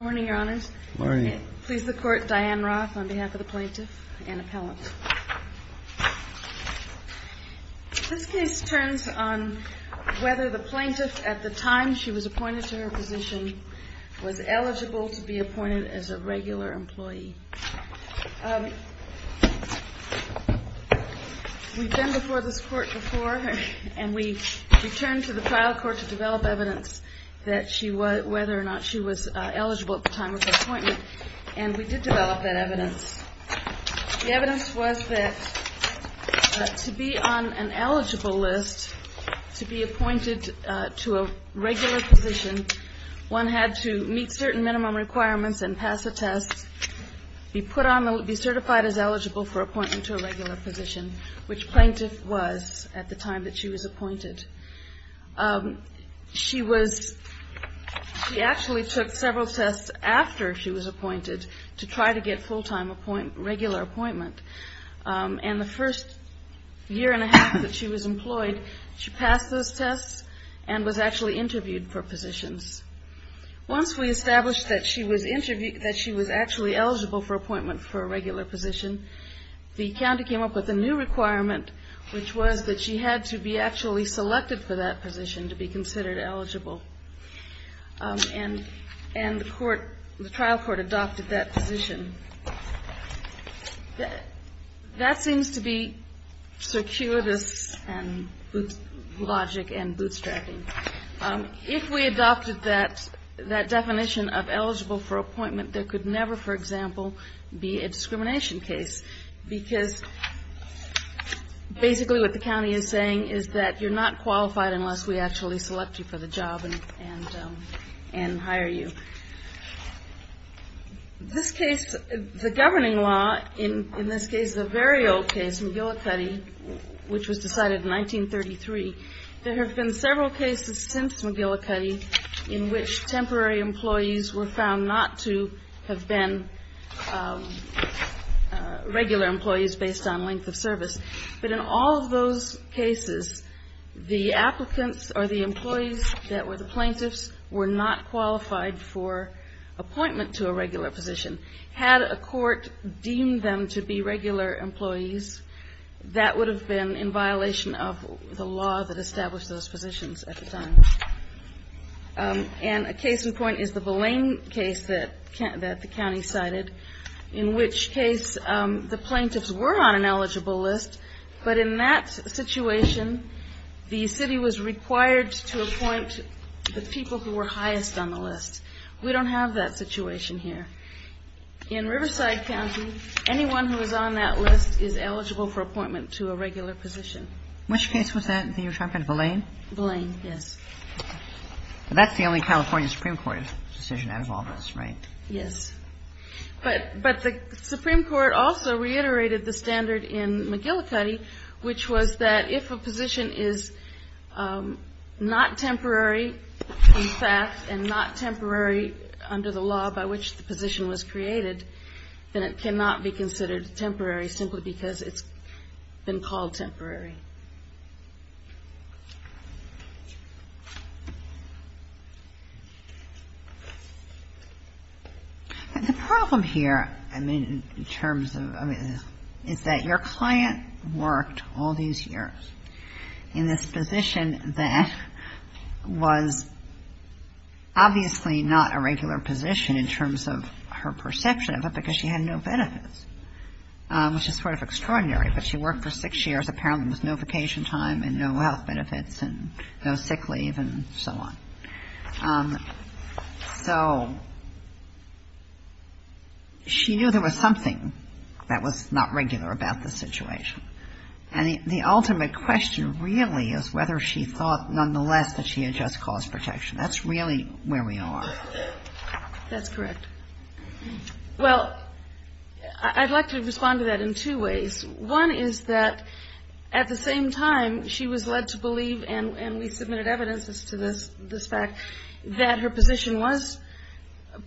Good morning, your honors. Please the court, Diane Roth on behalf of the plaintiff and appellant. This case turns on whether the plaintiff at the time she was appointed to her position was eligible to be appointed as a regular employee. We've been before this court before and we returned to the trial court to develop evidence whether or not she was eligible at the time of her appointment and we did develop that evidence. The evidence was that to be on an eligible list, to be appointed to a regular position, one had to meet certain minimum requirements and pass a test, be certified as eligible for appointment to a regular position, which plaintiff was at the time that she was appointed. She actually took several tests after she was appointed to try to get full-time regular appointment. And the first year and a half that she was employed, she passed those tests and was actually interviewed for positions. Once we established that she was actually eligible for appointment for a regular position, the county came up with a new requirement, which was that she had to be actually selected for that position to be considered eligible. And the trial court adopted that position. That seems to be circuitous logic and bootstrapping. If we adopted that definition of eligible for appointment, there could never, for example, be a discrimination case. Because basically what the county is saying is that you're not qualified unless we actually select you for the job and hire you. This case, the governing law in this case is a very old case, McGillicuddy, which was decided in 1933. There have been several cases since McGillicuddy in which temporary employees were found not to have been re-employed. Regular employees based on length of service. But in all of those cases, the applicants or the employees that were the plaintiffs were not qualified for appointment to a regular position. Had a court deemed them to be regular employees, that would have been in violation of the law that established those positions at the time. And a case in point is the Villain case that the county cited, in which case the plaintiffs were on an eligible list. But in that situation, the city was required to appoint the people who were highest on the list. We don't have that situation here. In Riverside County, anyone who is on that list is eligible for appointment to a regular position. Which case was that that you were talking about, Villain? Villain, yes. That's the only California Supreme Court decision that involves us, right? Yes. But the Supreme Court also reiterated the standard in McGillicuddy, which was that if a position is not temporary in fact and not temporary under the law by which the position is not temporary, then it cannot be considered temporary simply because it's been called temporary. The problem here, I mean, in terms of this, is that your client worked all these years in this position that was obviously not a regular position in terms of, you know, her perception of it because she had no benefits, which is sort of extraordinary. But she worked for six years, apparently with no vacation time and no health benefits and no sick leave and so on. So she knew there was something that was not regular about the situation. And the ultimate question really is whether she thought nonetheless that she had just caused protection. That's really where we are. That's correct. Well, I'd like to respond to that in two ways. One is that at the same time, she was led to believe, and we submitted evidences to this fact, that her position was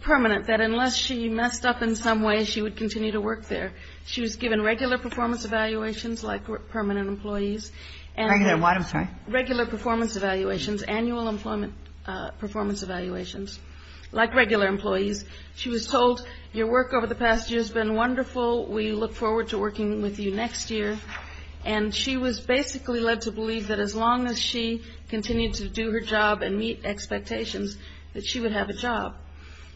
permanent, that unless she messed up in some way, she would continue to work there. She was given regular performance evaluations like permanent employees. Regular what? I'm sorry. Performance evaluations, like regular employees. She was told, your work over the past year has been wonderful. We look forward to working with you next year. And she was basically led to believe that as long as she continued to do her job and meet expectations, that she would have a job.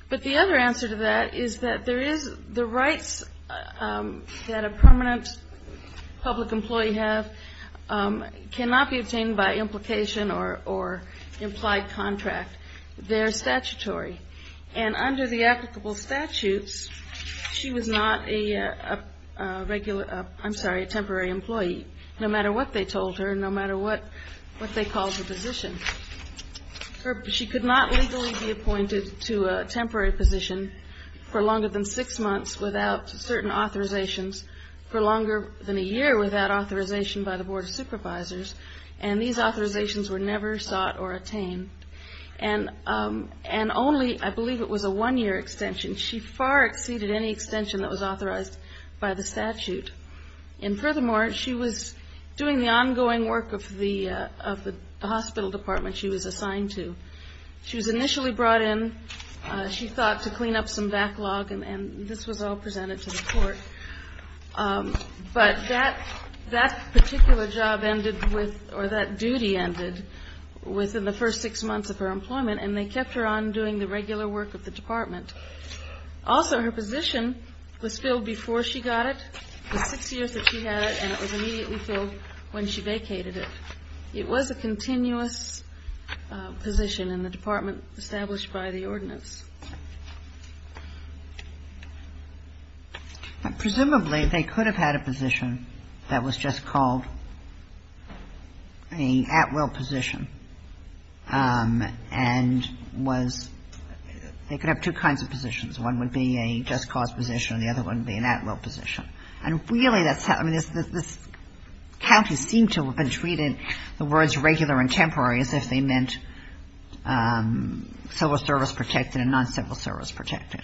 But the other answer to that is that there is the rights that a permanent public employee has cannot be obtained by implication or implied contract. They're statutory. And under the applicable statutes, she was not a regular, I'm sorry, a temporary employee, no matter what they told her, no matter what they called the position. She could not legally be appointed to a temporary position for longer than six months without certain authorizations, for longer than a year without authorization by the Board of Supervisors. And these authorizations were never sought or attained. And only, I believe it was a one-year extension. She far exceeded any extension that was authorized by the statute. And furthermore, she was doing the ongoing work of the hospital department she was assigned to. She was initially brought in, she thought, to clean up some backlog, and this was all presented to the court. But that particular job ended with, or that duty ended within the first six months of her employment, and they kept her on doing the regular work of the department. Also, her position was filled before she got it. It was six years that she had it, and it was immediately filled when she vacated it. It was a continuous position in the department established by the ordinance. Presumably, they could have had a position that was just called an at-will position and was, they could have two kinds of positions. One would be a just cause position, and the other one would be an at-will position. And really, that's how, I mean, this county seemed to have been treated, the words regular and temporary, as if they meant civil service protected and non-civil service protected.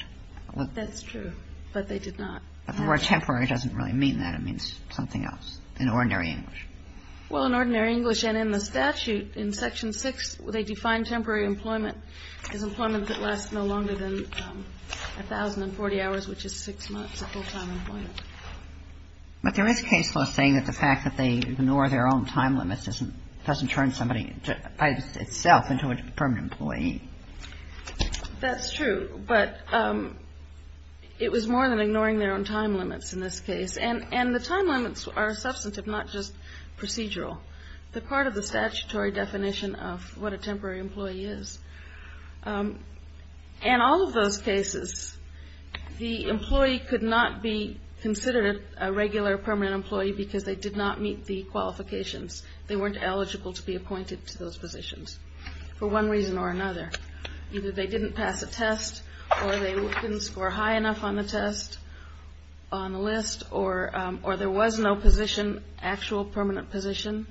That's true, but they did not. But the word temporary doesn't really mean that. It means something else in ordinary English. Well, in ordinary English and in the statute, in Section 6, they define temporary employment as employment that lasts no longer than 1,040 hours, which is six months of full-time employment. But there is case law saying that the fact that they ignore their own time limits doesn't turn somebody by itself into a permanent employee. That's true. But it was more than ignoring their own time limits in this case. And the time limits are substantive, not just procedural. They're part of the statutory definition of what a temporary employee is. In all of those cases, the employee could not be considered a regular permanent employee because they did not meet the qualifications. They weren't eligible to be appointed to those positions for one reason or another. Either they didn't pass a test or they didn't score high enough on the test, on the list, or there was no position, actual permanent position,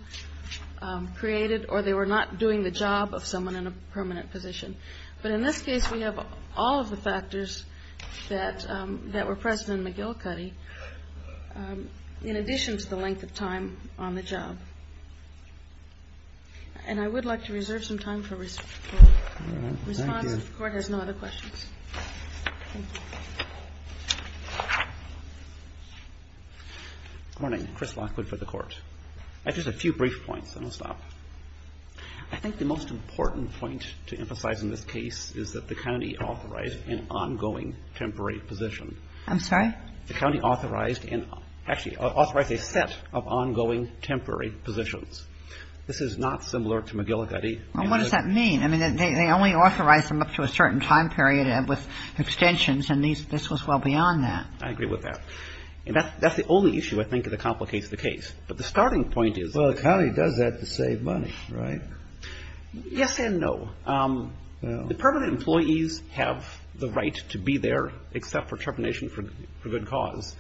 created, or they were not doing the job of someone in a permanent position. But in this case, we have all of the factors that were present in McGill-Cuddy, in addition to the length of time on the job. And I would like to reserve some time for response. If the Court has no other questions. Thank you. Lockwood. Good morning. Chris Lockwood for the Court. I have just a few brief points, then I'll stop. I think the most important point to emphasize in this case is that the county authorized an ongoing temporary position. I'm sorry? The county authorized and actually authorized a set of ongoing temporary positions. This is not similar to McGill-Cuddy. Well, what does that mean? I mean, they only authorized them up to a certain time period with extensions, and this was well beyond that. I agree with that. And that's the only issue, I think, that complicates the case. But the starting point is the county does that to save money, right? Yes and no. The permanent employees have the right to be there except for termination for good cause.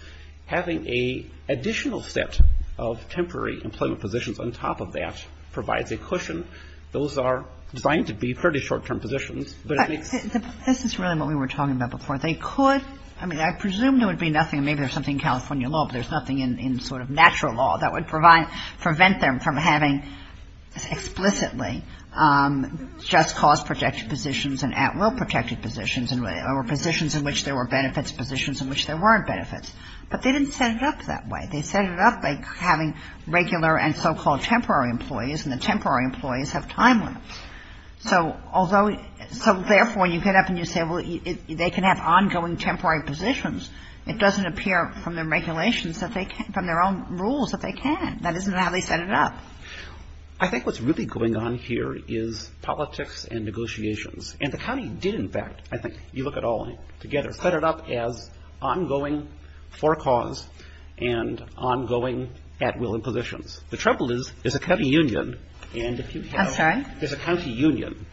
Having an additional set of temporary employment positions on top of that provides a cushion. Those are designed to be pretty short-term positions. This is really what we were talking about before. They could, I mean, I presume there would be nothing, maybe there's something in California law, but there's nothing in sort of natural law that would prevent them from having explicitly just cause-protected positions and at-will-protected positions, or positions in which there were benefits, positions in which there weren't benefits. But they didn't set it up that way. They set it up by having regular and so-called temporary employees, and the temporary employees have time limits. So therefore, when you get up and you say, well, they can have ongoing temporary positions, it doesn't appear from the regulations that they can't, from their own rules that they can. That isn't how they set it up. I think what's really going on here is politics and negotiations. And the county did, in fact, I think you look at all together, set it up as ongoing for cause and ongoing at-will positions. The trouble is there's a county union, and if you have I'm sorry. There's a county union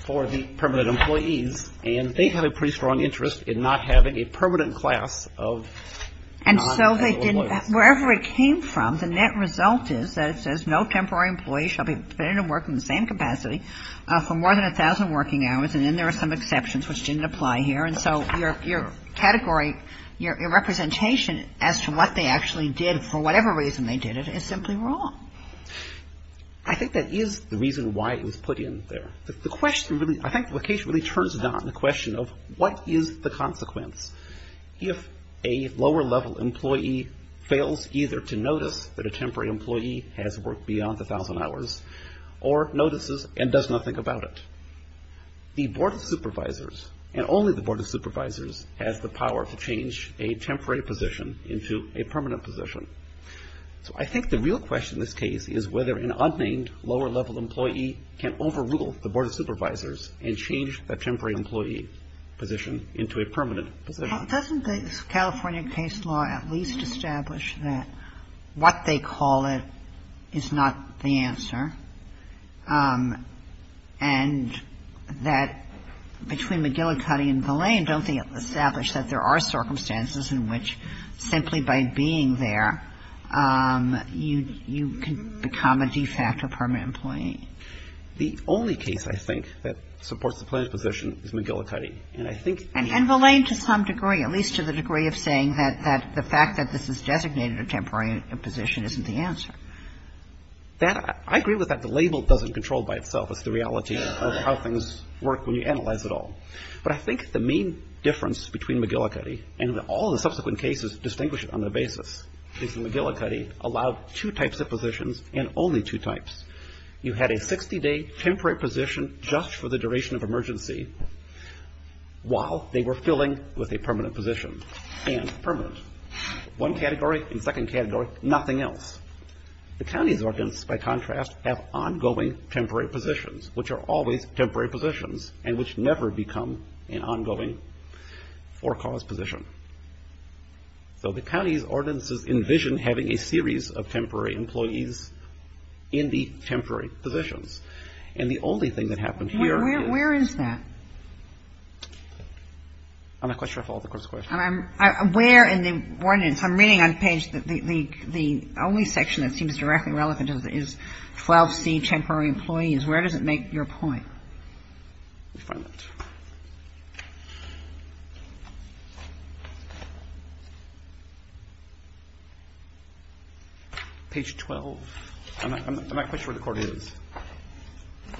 for the permanent employees, and they have a pretty strong interest in not having a permanent class of And so they didn't Wherever it came from, the net result is that it says no temporary employee shall be permitted to work in the same capacity for more than 1,000 working hours, and then there are some exceptions which didn't apply here. And so your category, your representation as to what they actually did, for whatever reason they did it, is simply wrong. I think that is the reason why it was put in there. The question really, I think the case really turns it on, the question of what is the consequence if a lower-level employee fails either to notice that a temporary employee has worked beyond 1,000 hours or notices and does nothing about it. The Board of Supervisors, and only the Board of Supervisors, has the power to change a temporary position into a permanent position. So I think the real question in this case is whether an unnamed lower-level employee can overrule the Board of Supervisors and change the temporary employee position into a permanent position. Doesn't the California case law at least establish that what they call it is not the answer, and that between McGillicuddy and Villain, don't they establish that there are circumstances in which simply by being there, you can become a de facto permanent employee? The only case, I think, that supports the plaintiff's position is McGillicuddy. And I think the other one is Villain. And Villain to some degree, at least to the degree of saying that the fact that this is designated a temporary position isn't the answer. I agree with that. The label doesn't control by itself. It's the reality of how things work when you analyze it all. But I think the main difference between McGillicuddy, and all the subsequent cases distinguish it on the basis, is that McGillicuddy allowed two types of positions and only two types. You had a 60-day temporary position just for the duration of emergency, while they were filling with a permanent position, and permanent. One category and second category, nothing else. The county's ordinance, by contrast, have ongoing temporary positions, which are always temporary positions, and which never become an ongoing for-cause position. So the county's ordinances envision having a series of temporary employees in 12C temporary positions. And the only thing that happened here is... Where is that? I'm not quite sure I followed the Court's question. I'm aware in the ordinance. I'm reading on page, the only section that seems directly relevant is 12C temporary employees. Where does it make your point? Let me find that. Page 12. I'm not quite sure where the Court is.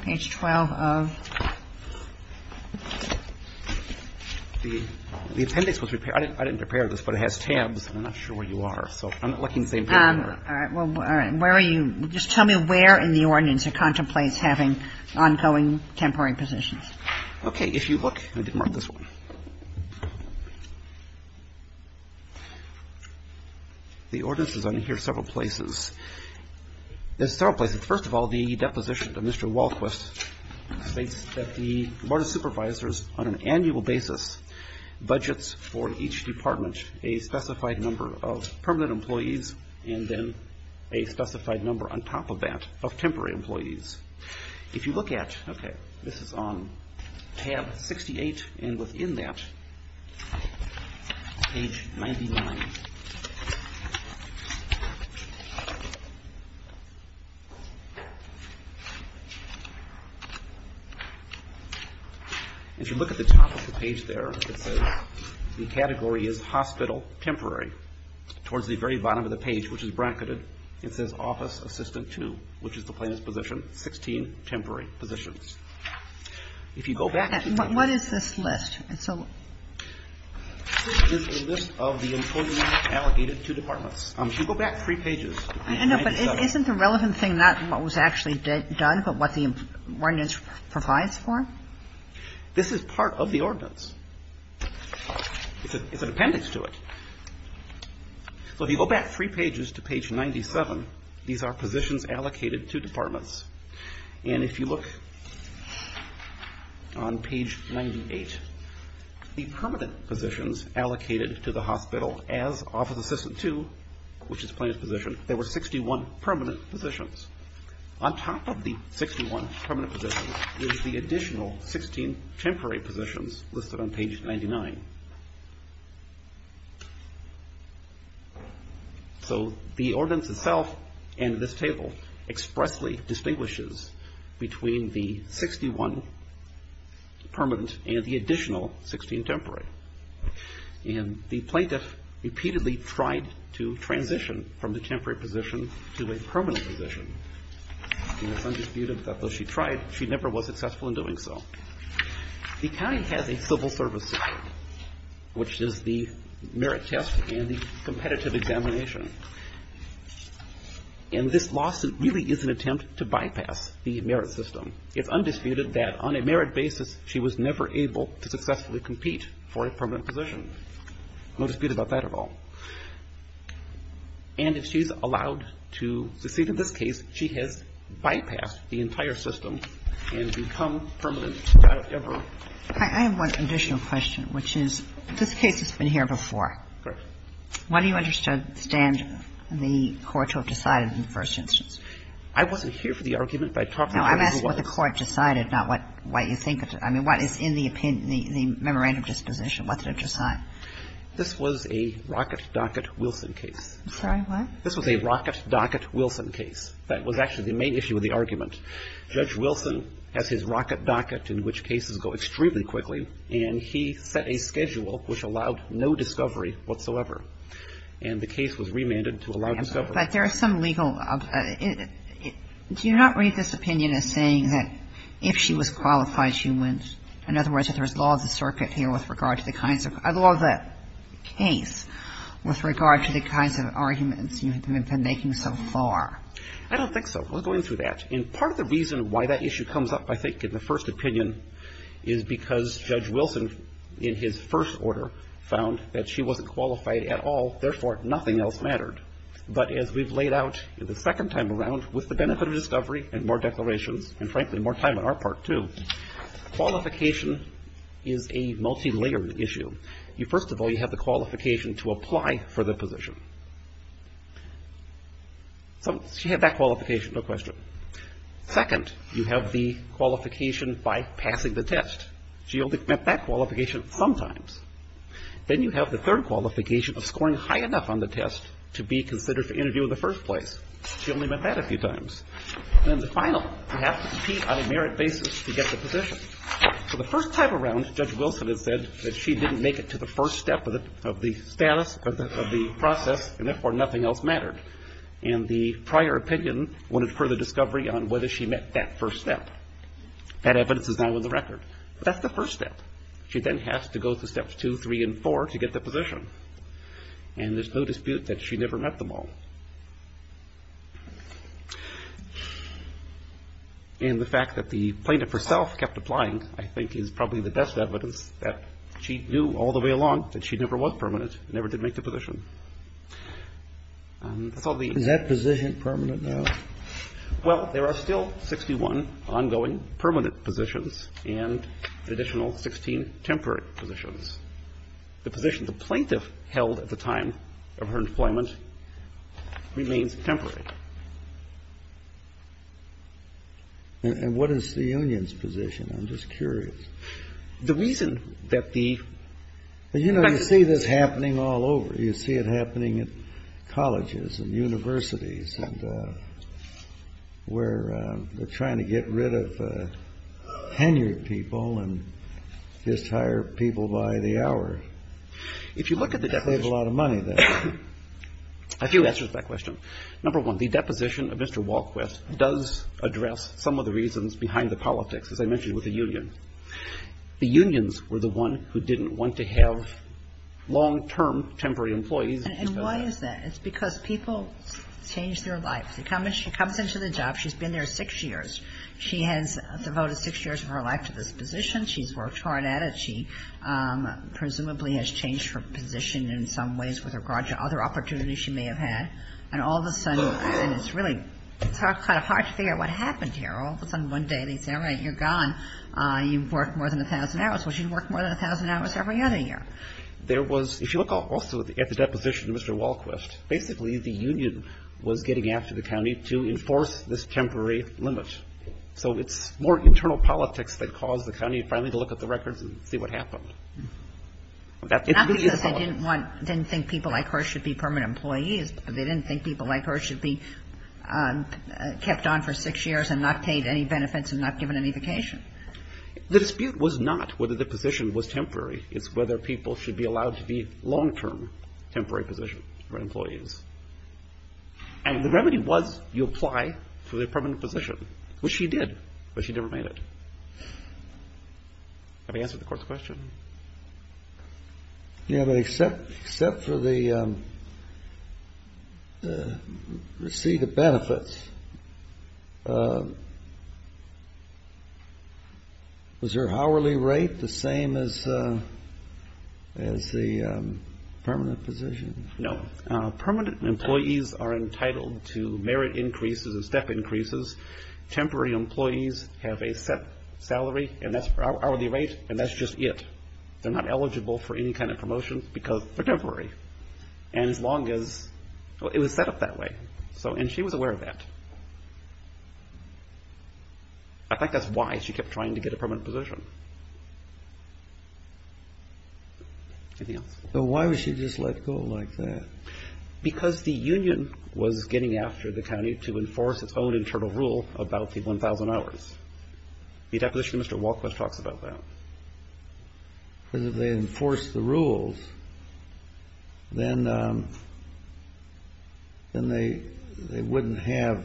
Page 12 of... The appendix was repaired. I didn't prepare this, but it has tabs, and I'm not sure where you are. So I'm not looking at the same page. All right. Well, where are you? Just tell me where in the ordinance it contemplates having ongoing temporary positions. Okay. If you look, I did mark this one. The ordinance is on here several places. There's several places. First of all, the deposition of Mr. Walquist states that the Board of Supervisors on an annual basis budgets for each department a specified number of permanent employees and then a specified number on top of that of temporary employees. If you look at... Okay. This is on tab 68, and within that is page 99. If you look at the top of the page there, it says the category is hospital temporary. Towards the very bottom of the page, which is bracketed, it says office assistant 2, which is the plaintiff's position, 16 temporary positions. If you go back... What is this list? This is a list of the employees allocated to departments. If you go back three pages... I know, but isn't the relevant thing not what was actually done, but what the ordinance provides for? This is part of the ordinance. It's an appendix to it. If you go back three pages to page 97, these are positions allocated to departments. If you look on page 98, the permanent positions allocated to the hospital as office assistant 2, which is the plaintiff's position, there were 61 permanent positions. On top of the 61 permanent positions is the additional 16 temporary positions listed on page 99. So the ordinance itself and this table expressly distinguishes between the 61 permanent and the additional 16 temporary. And the plaintiff repeatedly tried to transition from the temporary position to a permanent position. It's undisputed that though she tried, she never was successful in doing so. The county has a civil service system, which is the merit test and the competitive examination. And this lawsuit really is an attempt to bypass the merit system. It's undisputed that on a merit basis, she was never able to successfully compete for a permanent position. No dispute about that at all. And if she's allowed to succeed in this case, she has bypassed the entire system and become permanent, not ever. I have one additional question, which is, this case has been here before. Correct. Why do you understand the court to have decided in the first instance? I wasn't here for the argument, but I talked to the court. No, I'm asking what the court decided, not what you think. I mean, what is in the opinion, the memorandum disposition, what did it decide? This was a Rocket Docket Wilson case. I'm sorry, what? This was a Rocket Docket Wilson case. That was actually the main issue of the argument. Judge Wilson has his Rocket Docket, in which cases go extremely quickly, and he set a schedule which allowed no discovery whatsoever. And the case was remanded to allow discovery. But there are some legal – do you not read this opinion as saying that if she was qualified, she went? In other words, if there's law of the circuit here with regard to the kinds of – law of the case with regard to the kinds of arguments you have been making so far. I don't think so. We're going through that. And part of the reason why that issue comes up, I think, in the first opinion, is because Judge Wilson, in his first order, found that she wasn't qualified at all. Therefore, nothing else mattered. But as we've laid out the second time around, with the benefit of discovery and more declarations, and frankly, more time on our part too, qualification is a multilayered issue. First of all, you have the qualification to apply for the position. So she had that qualification, no question. Second, you have the qualification by passing the test. She only met that qualification sometimes. Then you have the third qualification of scoring high enough on the test to be considered for interview in the first place. She only met that a few times. And then the final, you have to compete on a merit basis to get the position. For the first time around, Judge Wilson has said that she didn't make it to the first step of the process, and therefore nothing else mattered. And the prior opinion wanted further discovery on whether she met that first step. That evidence is now in the record. But that's the first step. She then has to go through steps two, three, and four to get the position. And there's no dispute that she never met them all. And the fact that the plaintiff herself kept applying, I think, is probably the best evidence that she knew all the way along that she never was permanent, never did make the position. And that's all the evidence. Kennedy. Is that position permanent now? Well, there are still 61 ongoing permanent positions and an additional 16 temporary positions. The position the plaintiff held at the time of her employment remains temporary. And what is the union's position? I'm just curious. The reason that the ---- Well, you know, you see this happening all over. You see it happening at colleges and universities and where they're trying to get rid of tenured people and just hire people by the hour. If you look at the deposition ---- They save a lot of money, though. A few answers to that question. Number one, the deposition of Mr. Walquist does address some of the reasons behind the politics, as I mentioned with the union. The unions were the one who didn't want to have long-term temporary employees. And why is that? It's because people change their lives. She comes into the job. She's been there six years. She has devoted six years of her life to this position. She's worked hard at it. She presumably has changed her position in some ways with regard to other opportunities she may have had. And all of a sudden it's really kind of hard to figure out what happened here. All of a sudden one day they say, all right, you're gone. You've worked more than 1,000 hours. Well, she'd worked more than 1,000 hours every other year. There was ---- If you look also at the deposition of Mr. Walquist, basically the union was getting after the county to enforce this temporary limit. So it's more internal politics that caused the county finally to look at the records and see what happened. That's the reason why ---- Not because they didn't want ---- didn't think people like her should be permanent employees, but they didn't think people like her should be kept on for six years and not paid any benefits and not given any vacation. The dispute was not whether the position was temporary. It's whether people should be allowed to be long-term temporary positions for employees. And the remedy was you apply for the permanent position, which she did, but she never made it. Have I answered the Court's question? Yeah, but except for the receipt of benefits, was her hourly rate the same as the permanent position? No. Permanent employees are entitled to merit increases and step increases. Temporary employees have a set salary and hourly rate, and that's just it. They're not eligible for any kind of promotion because they're temporary. And as long as ---- it was set up that way. And she was aware of that. I think that's why she kept trying to get a permanent position. Anything else? So why would she just let go like that? Because the union was getting after the county to enforce its own internal rule about the 1,000 hours. The deposition of Mr. Walcott talks about that. Because if they enforced the rules, then they wouldn't have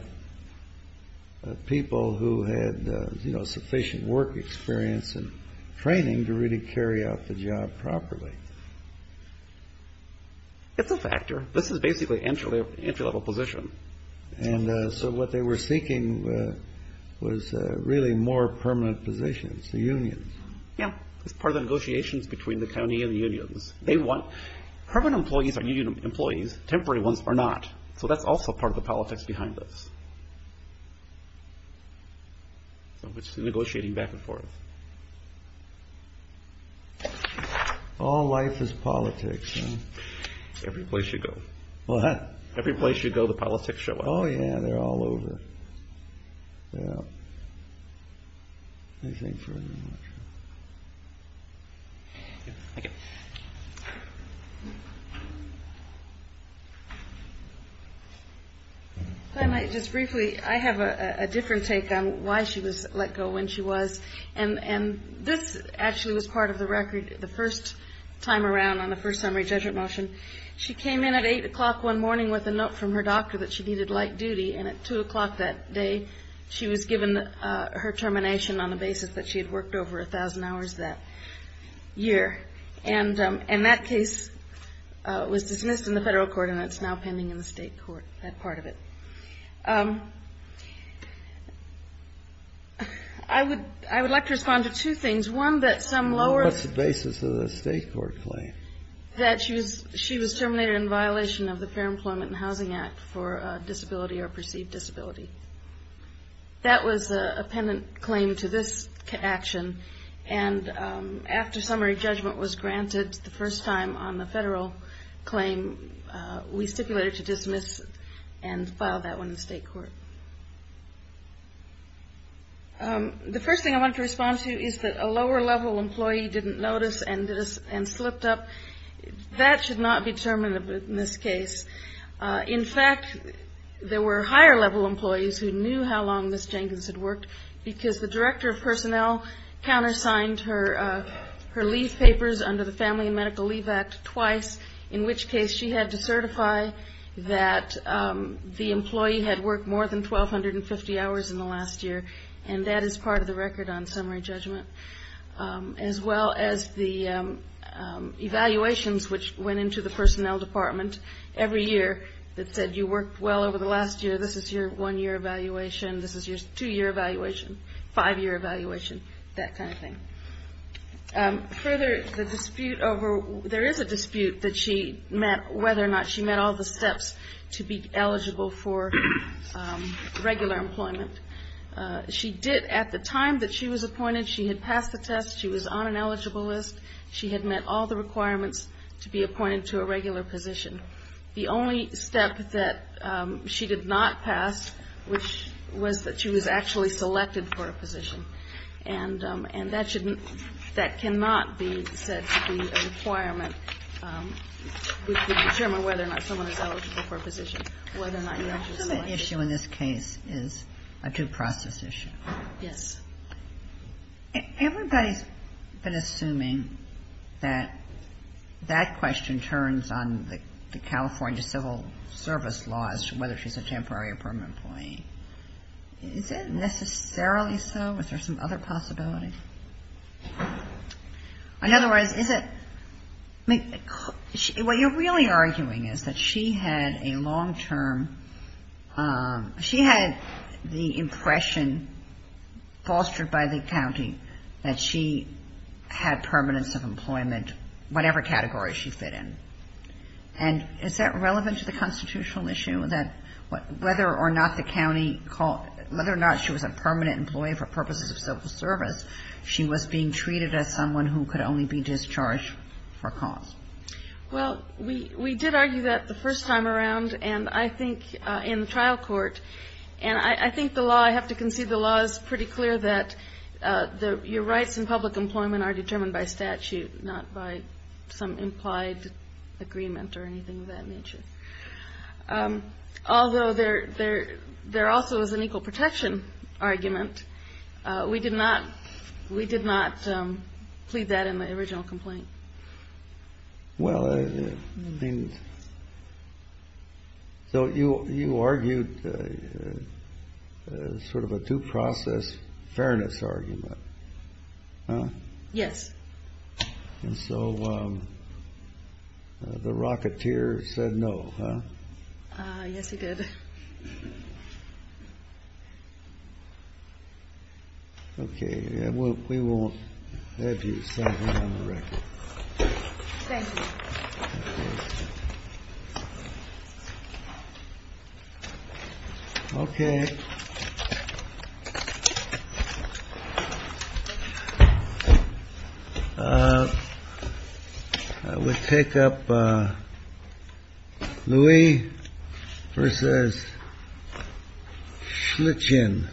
people who had, you know, sufficient work experience and training to really carry out the job properly. It's a factor. This is basically entry-level position. And so what they were seeking was really more permanent positions, the unions. Yeah. It's part of the negotiations between the county and the unions. They want ---- permanent employees are union employees. Temporary ones are not. So that's also part of the politics behind this. So it's negotiating back and forth. All life is politics, huh? Every place you go. What? Every place you go, the politics show up. Oh, yeah. They're all over. Yeah. Anything further? Thank you. Just briefly, I have a different take on why she was let go when she was. And this actually was part of the record the first time around on the first summary judgment motion. She came in at 8 o'clock one morning with a note from her doctor that she needed light duty. And at 2 o'clock that day, she was given her termination on the basis that she had worked over 1,000 hours that year. And that case was dismissed in the federal court, and it's now pending in the state court, that part of it. I would like to respond to two things. One, that some lower. What's the basis of the state court claim? That she was terminated in violation of the Fair Employment and Housing Act for disability or perceived disability. That was a pendant claim to this action. And after summary judgment was granted the first time on the federal claim, we stipulated to dismiss and file that one in the state court. The first thing I wanted to respond to is that a lower level employee didn't notice and slipped up. That should not be determined in this case. In fact, there were higher level employees who knew how long Ms. Jenkins had worked, because the director of personnel countersigned her leave papers under the Family and Medical Leave Act twice, in which case she had to certify that the employee had worked more than 1,250 hours in the last year. And that is part of the record on summary judgment. As well as the evaluations which went into the personnel department every year that said, you worked well over the last year, this is your one-year evaluation, this is your two-year evaluation, five-year evaluation, that kind of thing. Further, there is a dispute that she met whether or not she met all the steps to be eligible for regular employment. She did at the time that she was appointed. She had passed the test. She was on an eligible list. She had met all the requirements to be appointed to a regular position. The only step that she did not pass, which was that she was actually selected for a position. And that should not be, that cannot be said to be a requirement to determine whether or not someone is eligible for a position, whether or not you're actually selected. The issue in this case is a due process issue. Yes. Everybody's been assuming that that question turns on the California civil service laws, whether she's a temporary or permanent employee. Is that necessarily so? Is there some other possibility? In other words, is it, I mean, what you're really arguing is that she had a long-term, she had the impression fostered by the county that she had permanence of employment, whatever category she fit in. And is that relevant to the constitutional issue, that whether or not the county called, whether or not she was a permanent employee for purposes of civil service, she was being treated as someone who could only be discharged for cause? Well, we did argue that the first time around, and I think in the trial court, and I think the law, I have to concede the law is pretty clear that your rights and public employment are determined by statute, not by some implied agreement or anything of that nature. Although there also is an equal protection argument. We did not plead that in the original complaint. Well, I mean, so you argued sort of a due process fairness argument, huh? Yes. And so the Rocketeer said no, huh? Yes, he did. Okay. We won't let you settle on the record. Thank you. Okay. I would take up. Louis versus Schlitgen.